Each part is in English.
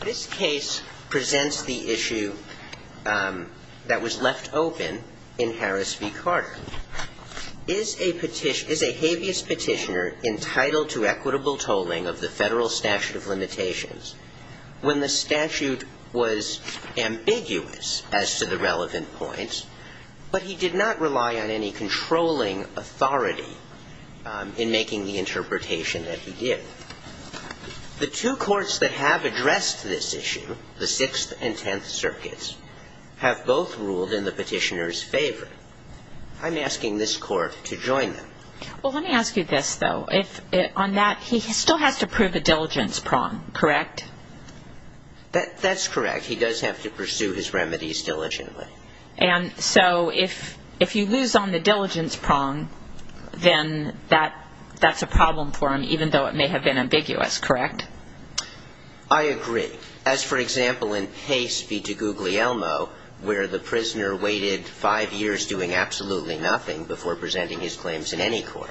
This case presents the issue that was left open in Harris v. Carter. Is a habeas petitioner entitled to equitable tolling of the Federal statute of limitations when the statute was ambiguous as to the relevant points, but he did not rely on any The two courts that have addressed this issue, the Sixth and Tenth Circuits, have both ruled in the petitioner's favor. I'm asking this Court to join them. Well, let me ask you this, though. On that, he still has to prove a diligence prong, correct? That's correct. He does have to pursue his remedies diligently. And so if you lose on the diligence prong, then that's a problem for him, even though it may have been ambiguous, correct? I agree. As, for example, in Pace v. DiGuglielmo, where the prisoner waited five years doing absolutely nothing before presenting his claims in any court.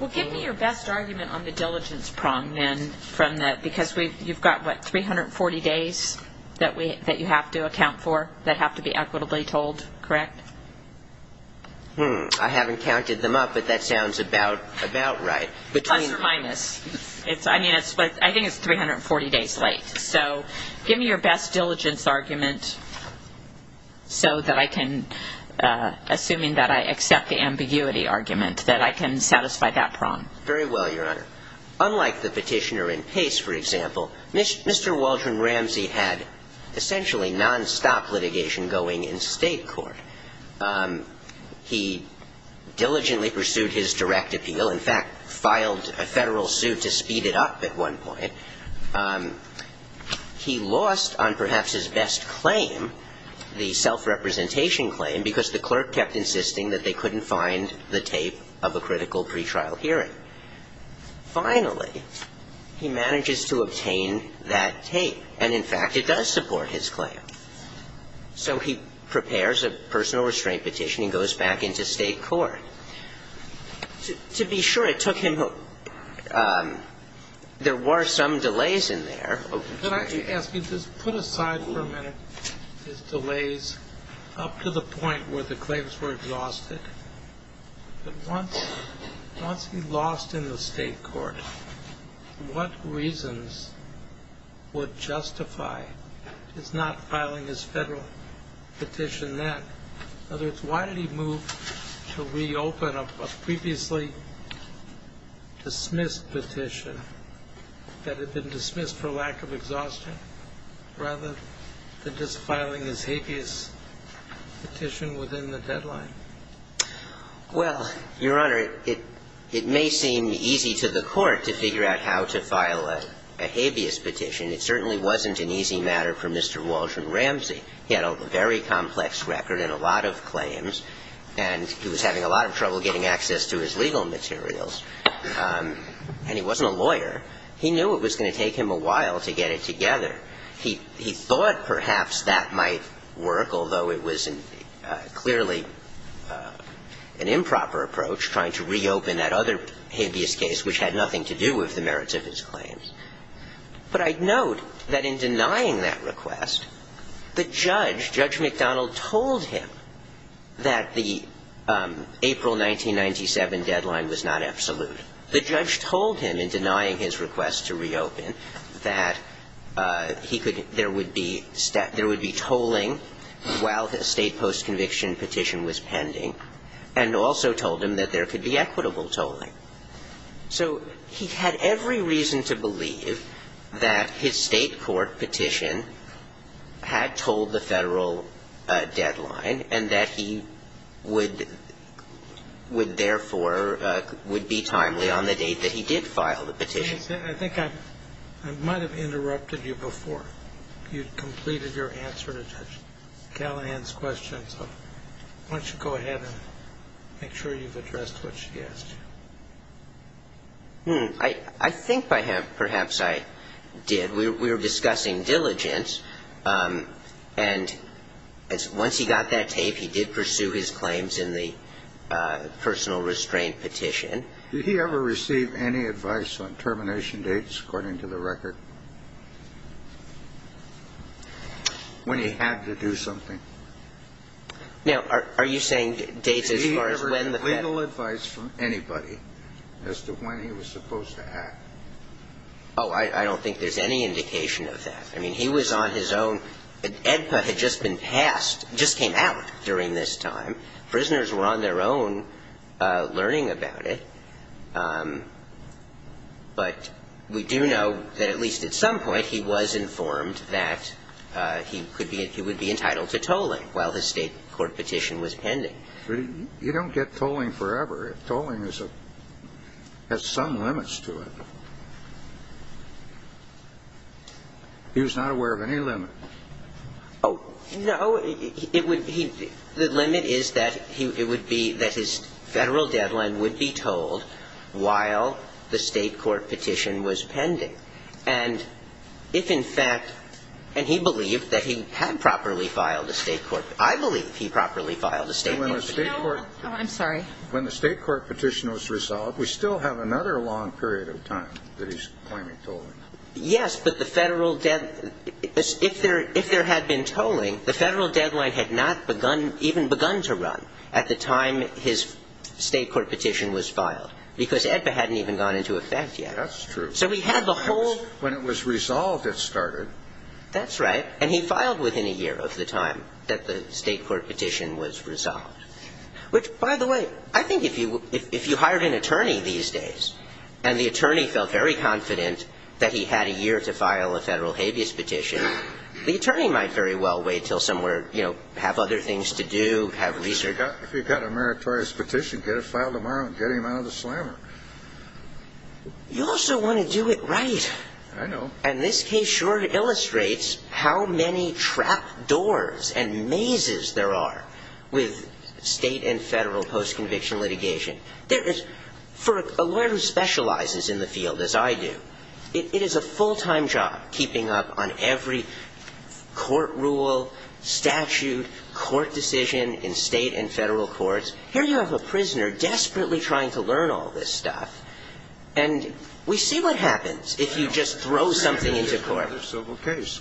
Well, give me your best argument on the diligence prong, then, from that, because you've got, what, 340 days that you have to be equitably told, correct? I haven't counted them up, but that sounds about right. Plus or minus. I mean, I think it's 340 days late. So give me your best diligence argument so that I can, assuming that I accept the ambiguity argument, that I can satisfy that prong. Very well, Your Honor. Unlike the petitioner in Pace, for example, Mr. Waldron Ramsey had essentially nonstop litigation going in State court. He diligently pursued his direct appeal, in fact, filed a Federal suit to speed it up at one point. He lost on perhaps his best claim, the self-representation claim, because the clerk kept insisting that they couldn't find the tape of a critical pretrial hearing. Finally, he manages to obtain that tape. And, in fact, it does support his claim. So he prepares a personal restraint petition and goes back into State court. To be sure, it took him a There were some delays in there. Could I ask you to put aside for a minute his delays up to the point where the claims were exhausted? But once he lost in the State court, what reasons would justify his not filing his Federal petition then? In other words, why did he move to reopen a previously dismissed petition that had been dismissed for lack of exhaustion, rather than just filing his habeas petition within the deadline? Well, Your Honor, it may seem easy to the Court to figure out how to file a habeas petition. It certainly wasn't an easy matter for Mr. Waldron Ramsey. He had a very complex record and a lot of claims. And he was having a lot of trouble getting access to his legal materials. And he wasn't a lawyer. He knew it was going to take him a while to get it together. He thought perhaps that might work, although it was clearly an improper approach, trying to reopen that other habeas case, which had nothing to do with the merits of his claims. But I'd note that in denying that request, the judge, Judge McDonald, told him that the April 1997 deadline was not absolute. The judge told him, in denying his request to reopen, that he could – there would be – there would be tolling while the State post-conviction petition was pending, and also told him that there could be equitable tolling. So he had every reason to believe that his State court petition had told the Federal deadline, and that he would – would, therefore, would be timely on the date that he did file the petition. I think I might have interrupted you before you'd completed your answer to Judge Callahan's question. So why don't you go ahead and make sure you've addressed what she asked you. Hmm. I think I have. Perhaps I did. We were discussing diligence. And once he got that tape, he did pursue his claims in the personal restraint petition. Did he ever receive any advice on termination dates, according to the record, when he had to do something? Now, are you saying dates as far as when the Federal – Did he ever get legal advice from anybody as to when he was supposed to act? Oh, I don't think there's any indication of that. I mean, he was on his own. The AEDPA had just been passed – just came out during this time. Prisoners were on their own learning about it. But we do know that at least at some point he was informed that he could be – he would be entitled to tolling while his State court petition was pending. You don't get tolling forever. Tolling has some limits to it. He was not aware of any limit. Oh, no. The limit is that it would be that his Federal deadline would be tolled while the State court petition was pending. And if, in fact – and he believed that he had properly filed a State court – I believe he properly filed a State court petition. When the State court petition was resolved, we still have another long period of time that he's claiming tolling. Yes, but the Federal – if there had been tolling, the Federal deadline had not even begun to run at the time his State court petition was filed, because AEDPA hadn't even gone into effect yet. That's true. So he had the whole – When it was resolved, it started. That's right. And he filed within a year of the time that the State court petition was resolved. Which, by the way, I think if you – if you hired an attorney these days and the attorney felt very confident that he had a year to file a Federal habeas petition, the attorney might very well wait until somewhere, you know, have other things to do, have research. If you got a meritorious petition, get it filed tomorrow and get him out of the slammer. You also want to do it right. I know. And this case sure illustrates how many trap doors and mazes there are with State and Federal post-conviction litigation. For a lawyer who specializes in the field, as I do, it is a full-time job keeping up on every court rule, statute, court decision in State and Federal courts. And the reason I'm saying that is because here you have a prisoner desperately trying to learn all this stuff. And we see what happens if you just throw something into court. It's treated as another civil case.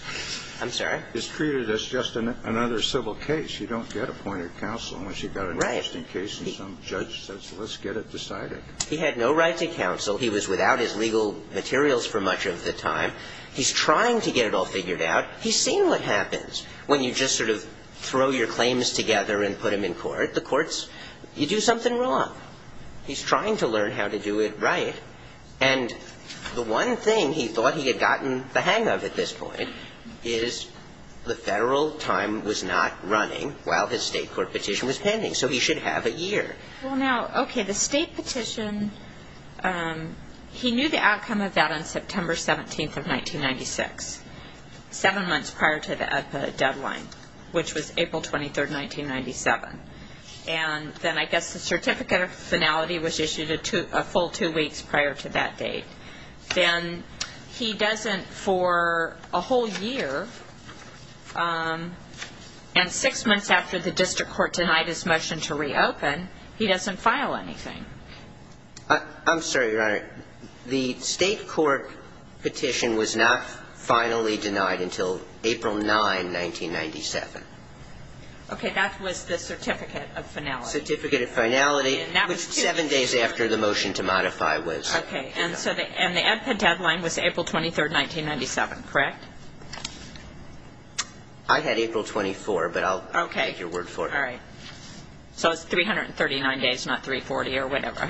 I'm sorry? It's treated as just another civil case. You don't get appointed counsel unless you've got an interesting case and some judge says let's get it decided. Right. He had no right to counsel. He was without his legal materials for much of the time. He's trying to get it all figured out. He's seen what happens when you just sort of throw your claims together and put them in court. The courts, you do something wrong. He's trying to learn how to do it right. And the one thing he thought he had gotten the hang of at this point is the Federal time was not running while his State court petition was pending. So he should have a year. Well, now, okay, the State petition, he knew the outcome of that on September 17th of 1996, seven months prior to the EDPA deadline, which was April 23rd, 1997. And then I guess the certificate of finality was issued a full two weeks prior to that date. Then he doesn't, for a whole year, and six months after the district court denied his motion to reopen, he doesn't file anything. I'm sorry, Your Honor. The State court petition was not finally denied until April 9, 1997. Okay. That was the certificate of finality. Certificate of finality, which seven days after the motion to modify was. Okay. And the EDPA deadline was April 23rd, 1997, correct? I had April 24, but I'll take your word for it. Okay. All right. So it's 339 days, not 340 or whatever.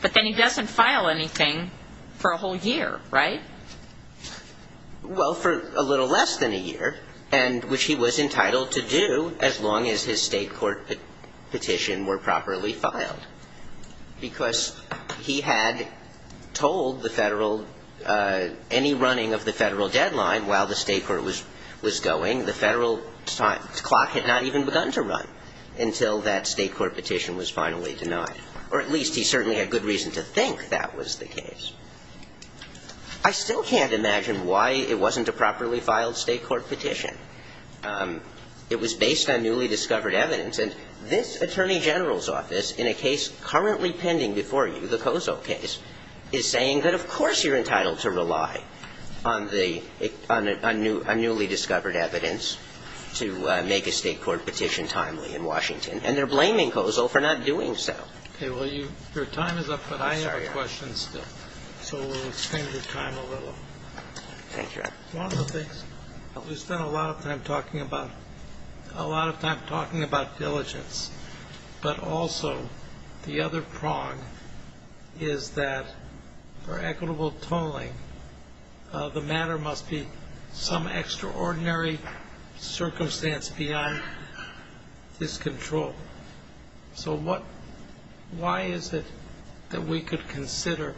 But then he doesn't file anything for a whole year, right? Well, for a little less than a year, which he was entitled to do as long as his State court petition were properly filed. Because he had told the Federal any running of the Federal deadline while the State court was going. The Federal clock had not even begun to run until that State court petition was finally denied. Or at least he certainly had good reason to think that was the case. I still can't imagine why it wasn't a properly filed State court petition. It was based on newly discovered evidence. And this Attorney General's office, in a case currently pending before you, the Kozol case, is saying that, of course, you're entitled to rely on the unnewly discovered evidence to make a State court petition timely in Washington. And they're blaming Kozol for not doing so. Okay. Well, your time is up, but I have a question still. So we'll extend your time a little. Thank you, Your Honor. One of the things that we spend a lot of time talking about, a lot of time talking about diligence, but also the other prong is that for equitable tolling, the matter must be some extraordinary circumstance beyond his control. So what – why is it that we could consider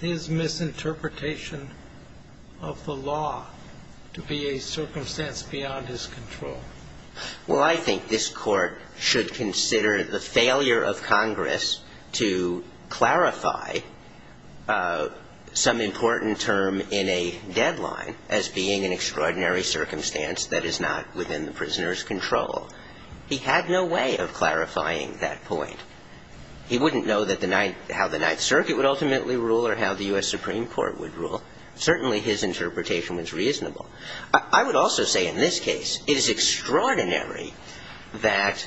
his misinterpretation of the law to be a circumstance beyond his control? Well, I think this Court should consider the failure of Congress to clarify some important term in a deadline as being an extraordinary circumstance that is not within the prisoner's control. He had no way of clarifying that point. He wouldn't know that the – how the Ninth Circuit would ultimately rule or how the U.S. Supreme Court would rule. Certainly, his interpretation was reasonable. I would also say in this case, it is extraordinary that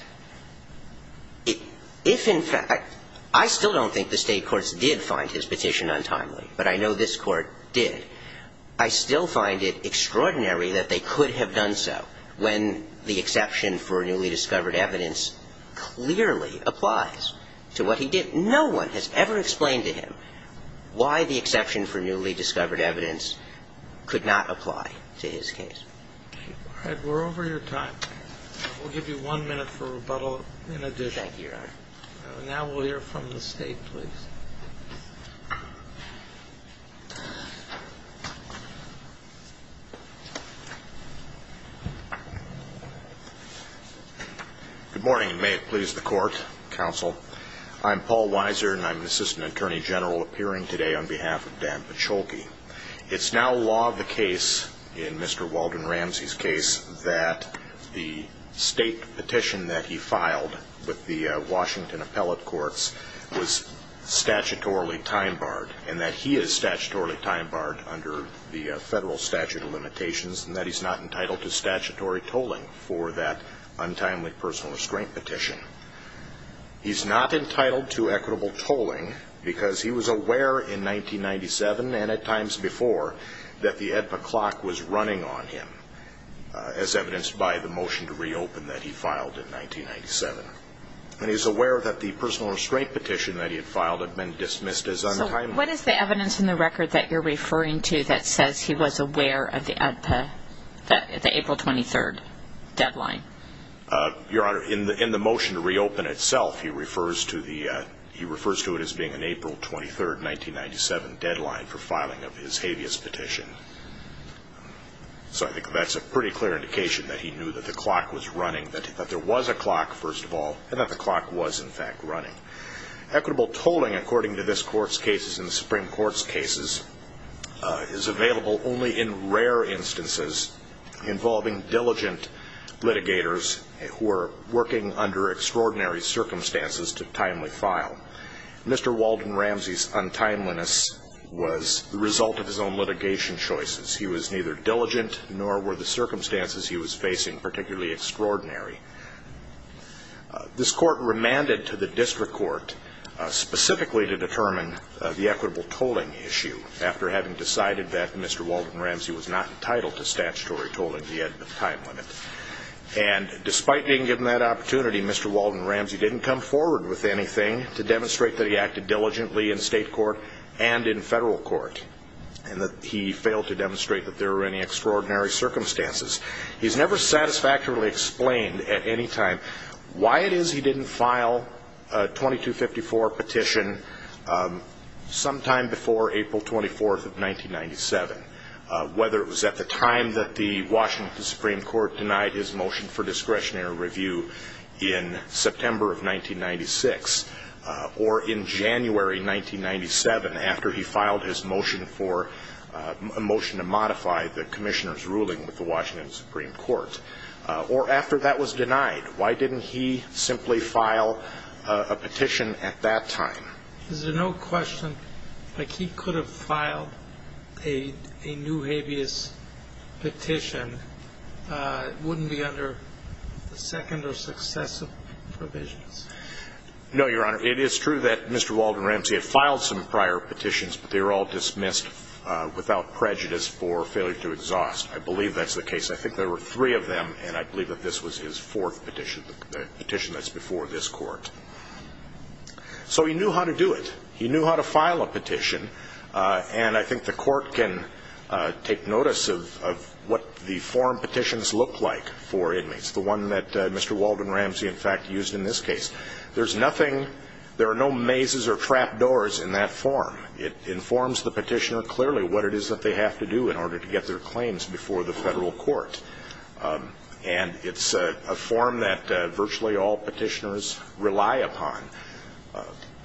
if in fact – I still don't think the State courts did find his petition untimely, but I know this Court did. I still find it extraordinary that they could have done so when the exception for newly discovered evidence clearly applies to what he did. No one has ever explained to him why the exception for newly discovered evidence could not apply to his case. All right. We're over your time. We'll give you one minute for rebuttal in addition. Thank you, Your Honor. Now we'll hear from the State, please. Good morning, and may it please the Court, Counsel. I'm Paul Weiser, and I'm an Assistant Attorney General appearing today on behalf of Dan Paciolke. It's now law of the case in Mr. Walden Ramsey's case that the State petition that he filed with the Washington Appellate Courts was statutorily time-barred, and that he is statutorily time-barred under the federal statute of limitations, and that he's not entitled to statutory tolling for that untimely personal restraint petition. He's not entitled to equitable tolling because he was aware in 1997 and at times before that the AEDPA clock was running on him, as evidenced by the motion to reopen that he filed in 1997. And he's aware that the personal restraint petition that he had filed had been dismissed as untimely. So what is the evidence in the record that you're referring to that says he was aware of the AEDPA, the April 23 deadline? Your Honor, in the motion to reopen itself, he refers to it as being an April 23, 1997 deadline for filing of his habeas petition. So I think that's a pretty clear indication that he knew that the clock was running, that there was a clock, first of all, and that the clock was, in fact, running. Equitable tolling, according to this Court's cases and the Supreme Court's cases, is available only in rare instances involving diligent litigators who are working under extraordinary circumstances to timely file. Mr. Walden Ramsey's untimeliness was the result of his own litigation choices. He was neither diligent nor were the circumstances he was facing particularly extraordinary. This Court remanded to the District Court specifically to determine the equitable tolling issue after having decided that Mr. Walden Ramsey was not entitled to statutory tolling of the AEDPA time limit. And despite being given that opportunity, Mr. Walden Ramsey didn't come forward with anything to demonstrate that he acted diligently in state court and in federal court and that he failed to demonstrate that there were any extraordinary circumstances. He's never satisfactorily explained at any time why it is he didn't file a 2254 petition sometime before April 24, 1997, whether it was at the time that the Washington Supreme Court denied his motion for discretionary review in September of 1996 or in January 1997 after he filed his motion to modify the Commissioner's ruling with the Washington Supreme Court, or after that was denied. Why didn't he simply file a petition at that time? Is there no question that if he could have filed a new habeas petition, it wouldn't be under the second or successive provisions? No, Your Honor. It is true that Mr. Walden Ramsey had filed some prior petitions, but they were all dismissed without prejudice for failure to exhaust. I believe that's the case. I think there were three of them, and I believe that this was his fourth petition, the petition that's before this Court. So he knew how to do it. He knew how to file a petition, and I think the Court can take notice of what the form petitions look like for inmates, the one that Mr. Walden Ramsey, in fact, used in this case. There's nothing, there are no mazes or trap doors in that form. It informs the petitioner clearly what it is that they have to do in order to get their claims before the federal court, and it's a form that virtually all petitioners rely upon,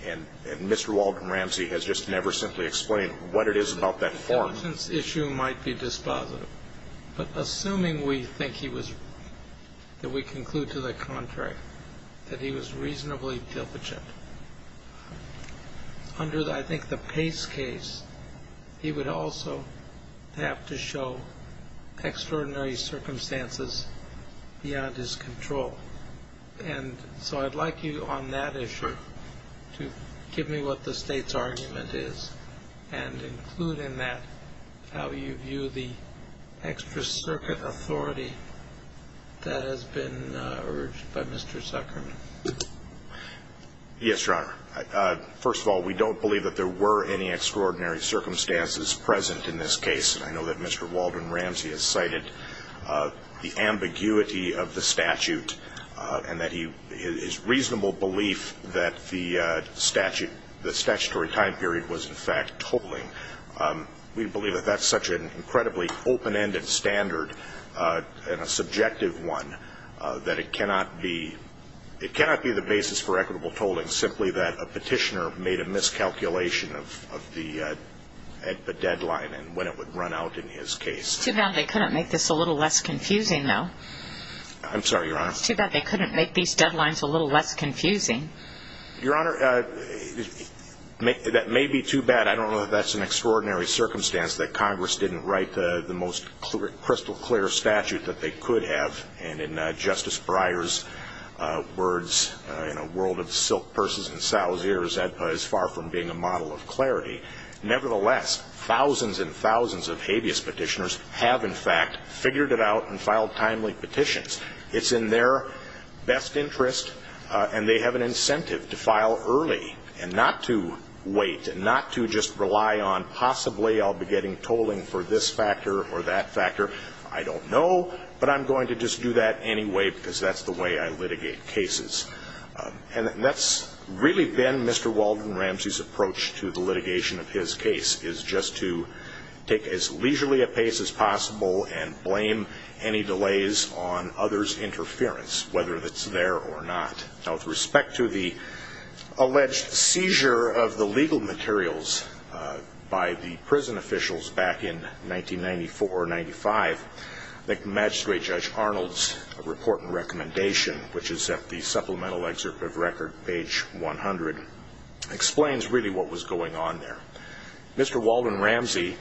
and Mr. Walden Ramsey has just never simply explained what it is about that form. The substance issue might be dispositive, but assuming we think he was, that we conclude to the contrary, that he was reasonably diligent, under, I think, the Pace case, he would also have to show extraordinary circumstances beyond his control. And so I'd like you on that issue to give me what the State's argument is and include in that how you view the extra-circuit authority that has been urged by Mr. Zuckerman. Yes, Your Honor. First of all, we don't believe that there were any extraordinary circumstances present in this case, and I know that Mr. Walden Ramsey has cited the ambiguity of the statute and that his reasonable belief that the statutory time period was, in fact, totaling. We believe that that's such an incredibly open-ended standard and a subjective one that it cannot be the basis for equitable tolling, simply that a petitioner made a miscalculation of the deadline and when it would run out in his case. Too bad they couldn't make this a little less confusing, though. I'm sorry, Your Honor. It's too bad they couldn't make these deadlines a little less confusing. Your Honor, that may be too bad. I don't know if that's an extraordinary circumstance that Congress didn't write the most crystal-clear statute that they could have and in Justice Breyer's words, in a world of silk purses and sow's ears, that is far from being a model of clarity. Nevertheless, thousands and thousands of habeas petitioners have, in fact, figured it out and filed timely petitions. It's in their best interest and they have an incentive to file early and not to wait and not to just rely on possibly I'll be getting tolling for this factor or that factor. I don't know, but I'm going to just do that anyway because that's the way I litigate cases. And that's really been Mr. Walden Ramsey's approach to the litigation of his case, is just to take as leisurely a pace as possible and blame any delays on others' interference, whether it's there or not. Now, with respect to the alleged seizure of the legal materials by the prison officials back in 1994-95, I think Magistrate Judge Arnold's report and recommendation, which is at the supplemental excerpt of record, page 100, explains really what was going on there. Mr. Walden Ramsey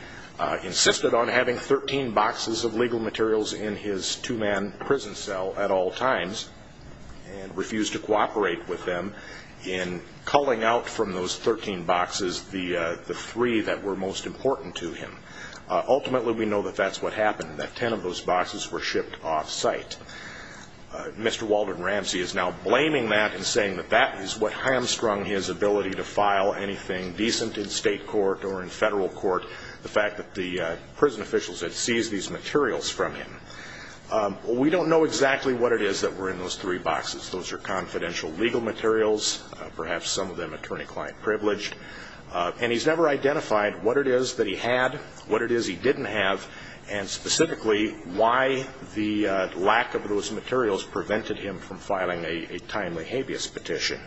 insisted on having 13 boxes of legal materials in his two-man prison cell at all times and refused to cooperate with them in culling out from those 13 boxes the three that were most important to him. Ultimately, we know that that's what happened, that 10 of those boxes were shipped off-site. Mr. Walden Ramsey is now blaming that and saying that that is what hamstrung his ability to file anything decent in state court or in federal court, the fact that the prison officials had seized these materials from him. We don't know exactly what it is that were in those three boxes. Those are confidential legal materials, perhaps some of them attorney-client privileged, and he's never identified what it is that he had, what it is he didn't have, and specifically why the lack of those materials prevented him from filing a timely habeas petition.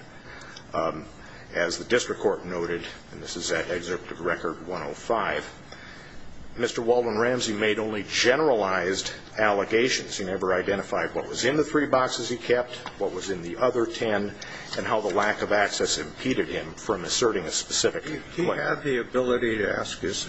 As the district court noted, and this is at excerpt of record 105, Mr. Walden Ramsey made only generalized allegations. He never identified what was in the three boxes he kept, what was in the other 10, and how the lack of access impeded him from asserting a specific claim. He had the ability to ask his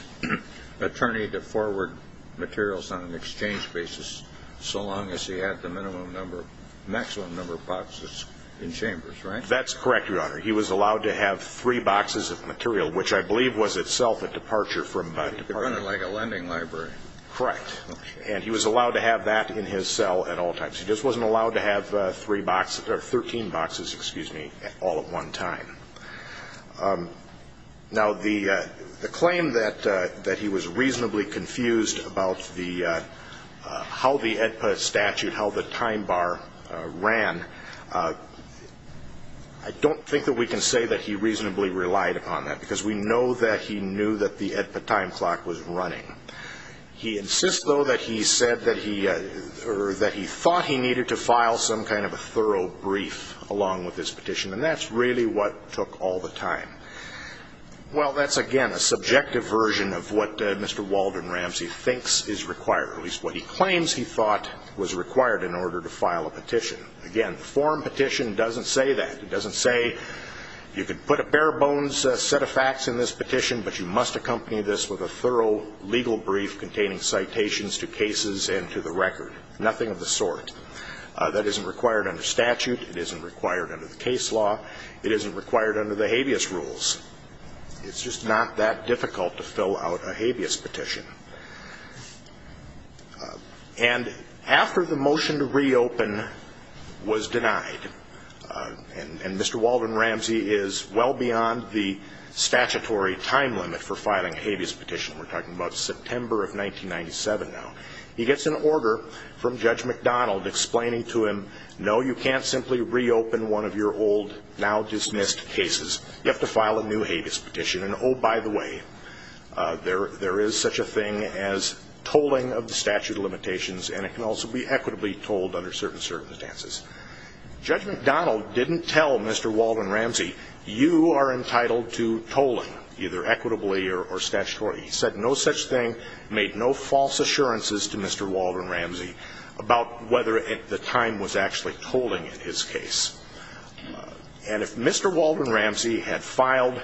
attorney to forward materials on an exchange basis so long as he had the minimum number, maximum number of boxes in chambers, right? That's correct, Your Honor. He was allowed to have three boxes of material, which I believe was itself a departure from department. Like a lending library. Correct. Okay. And he was allowed to have that in his cell at all times. He just wasn't allowed to have 13 boxes all at one time. Now, the claim that he was reasonably confused about how the AEDPA statute, how the time bar ran, I don't think that we can say that he reasonably relied upon that, because we know that he knew that the AEDPA time clock was running. He insists, though, that he said that he thought he needed to file some kind of a thorough brief along with his petition, and that's really what took all the time. Well, that's, again, a subjective version of what Mr. Walden Ramsey thinks is required, at least what he claims he thought was required in order to file a petition. Again, the form petition doesn't say that. It doesn't say you can put a bare-bones set of facts in this petition, but you must accompany this with a thorough legal brief containing citations to cases and to the record. Nothing of the sort. That isn't required under statute. It isn't required under the case law. It isn't required under the habeas rules. It's just not that difficult to fill out a habeas petition. And after the motion to reopen was denied, and Mr. Walden Ramsey is well beyond the statutory time limit for filing a habeas petition, we're talking about September of 1997 now, he gets an order from Judge McDonald explaining to him, no, you can't simply reopen one of your old, now-dismissed cases. You have to file a new habeas petition. And, oh, by the way, there is such a thing as tolling of the statute of limitations, and it can also be equitably tolled under certain circumstances. Judge McDonald didn't tell Mr. Walden Ramsey, you are entitled to tolling, either equitably or statutorily. He said no such thing, made no false assurances to Mr. Walden Ramsey about whether the time was actually tolling in his case. And if Mr. Walden Ramsey had filed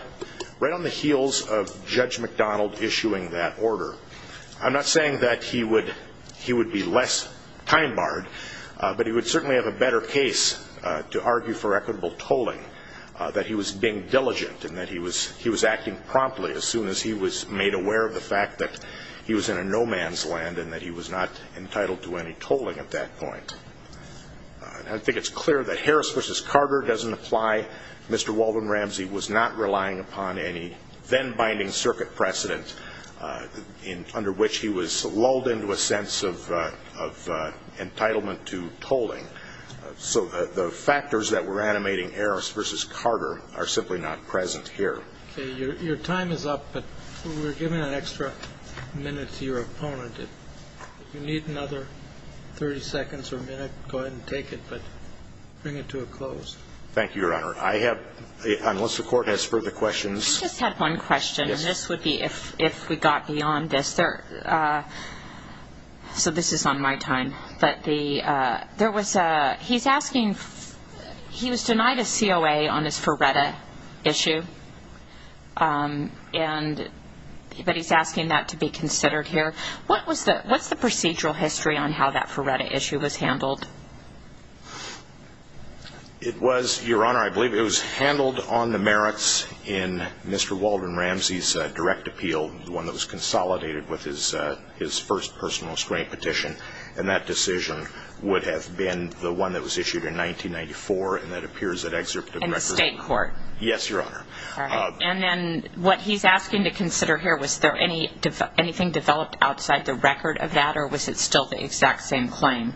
right on the heels of Judge McDonald issuing that order, I'm not saying that he would be less time-barred, but he would certainly have a better case to argue for equitable tolling, that he was being diligent and that he was acting promptly as soon as he was made aware of the fact that he was in a no-man's land and that he was not entitled to any tolling at that point. I think it's clear that Harris v. Carter doesn't apply. Mr. Walden Ramsey was not relying upon any then-binding circuit precedent under which he was lulled into a sense of entitlement to tolling. So the factors that were animating Harris v. Carter are simply not present here. Your time is up, but we're giving an extra minute to your opponent. If you need another 30 seconds or a minute, go ahead and take it, but bring it to a close. Thank you, Your Honor. I have, unless the Court has further questions. I just have one question, and this would be if we got beyond this. So this is on my time. But he was denied a COA on his Ferretta issue, but he's asking that to be considered here. What's the procedural history on how that Ferretta issue was handled? It was, Your Honor, I believe it was handled on the merits in Mr. Walden Ramsey's direct appeal, the one that was consolidated with his first personal restraint petition, and that decision would have been the one that was issued in 1994, and that appears in the excerpt of the record. In the state court? Yes, Your Honor. And then what he's asking to consider here, was there anything developed outside the record of that, or was it still the exact same claim?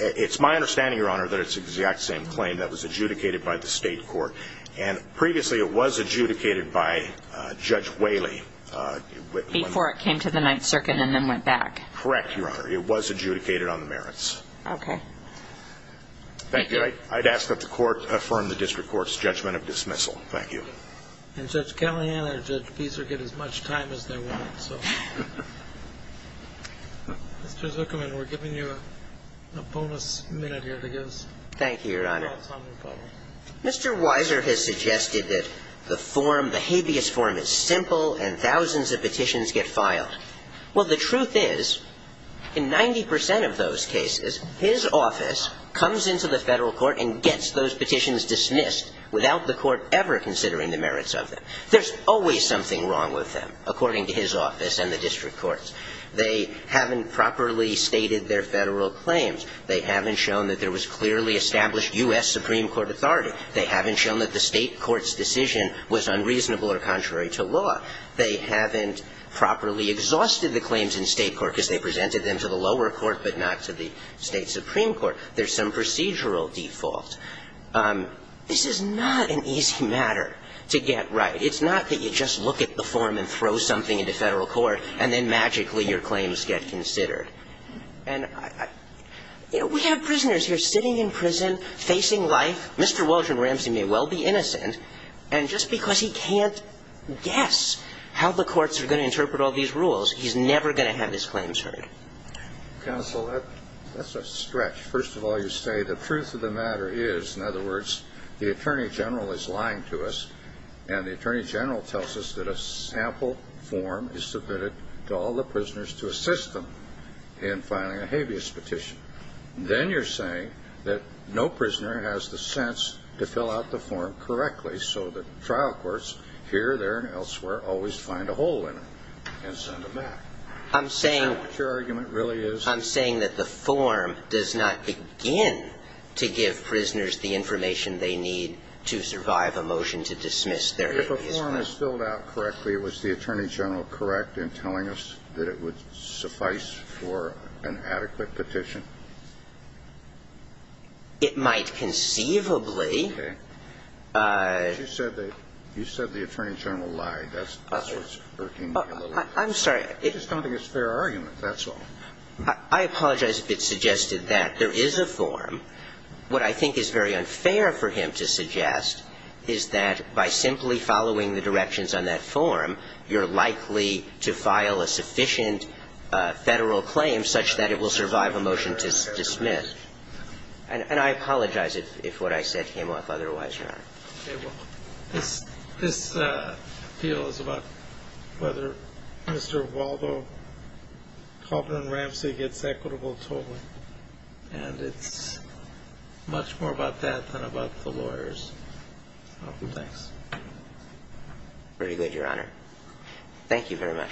It's my understanding, Your Honor, that it's the exact same claim that was adjudicated by the state court, and previously it was adjudicated by Judge Whaley. Before it came to the Ninth Circuit and then went back. Correct, Your Honor. Okay. Thank you. I'd ask that the court affirm the district court's judgment of dismissal. Thank you. And Judge Callahan and Judge Pizer get as much time as they want, so. Mr. Zuckerman, we're giving you a bonus minute here to give us thoughts on the problem. Thank you, Your Honor. Mr. Weiser has suggested that the form, the habeas form, is simple and thousands of petitions get filed. Well, the truth is, in 90 percent of those cases, his office comes into the federal court and gets those petitions dismissed without the court ever considering the merits of them. There's always something wrong with them, according to his office and the district courts. They haven't properly stated their federal claims. They haven't shown that there was clearly established U.S. Supreme Court authority. They haven't shown that the state court's decision was unreasonable or contrary to law. They haven't properly exhausted the claims in state court because they presented them to the lower court but not to the state supreme court. There's some procedural default. This is not an easy matter to get right. It's not that you just look at the form and throw something into federal court and then magically your claims get considered. And we have prisoners here sitting in prison, facing life. Mr. Waldron Ramsey may well be innocent, and just because he can't guess how the courts are going to interpret all these rules, he's never going to have his claims heard. Counsel, that's a stretch. First of all, you say the truth of the matter is, in other words, the Attorney General is lying to us and the Attorney General tells us that a sample form is submitted to all the prisoners to assist them in filing a habeas petition. Then you're saying that no prisoner has the sense to fill out the form correctly so that trial courts here, there and elsewhere always find a hole in it and send them back. Is that what your argument really is? I'm saying that the form does not begin to give prisoners the information they need to survive a motion to dismiss their habeas claim. If a form is filled out correctly, was the Attorney General correct in telling us that it would suffice for an adequate petition? It might conceivably. Okay. You said the Attorney General lied. That's what's working. I'm sorry. I just don't think it's a fair argument. That's all. I apologize if it suggested that. There is a form. What I think is very unfair for him to suggest is that by simply following the directions on that form, you're likely to file a sufficient Federal claim such that it will survive a motion to dismiss. And I apologize if what I said came off otherwise, Your Honor. Okay. Well, this appeal is about whether Mr. Waldo Kauffman Ramsey gets equitable tolling. And it's much more about that than about the lawyers. Thanks. Very good, Your Honor. Thank you very much.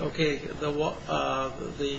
Okay. The.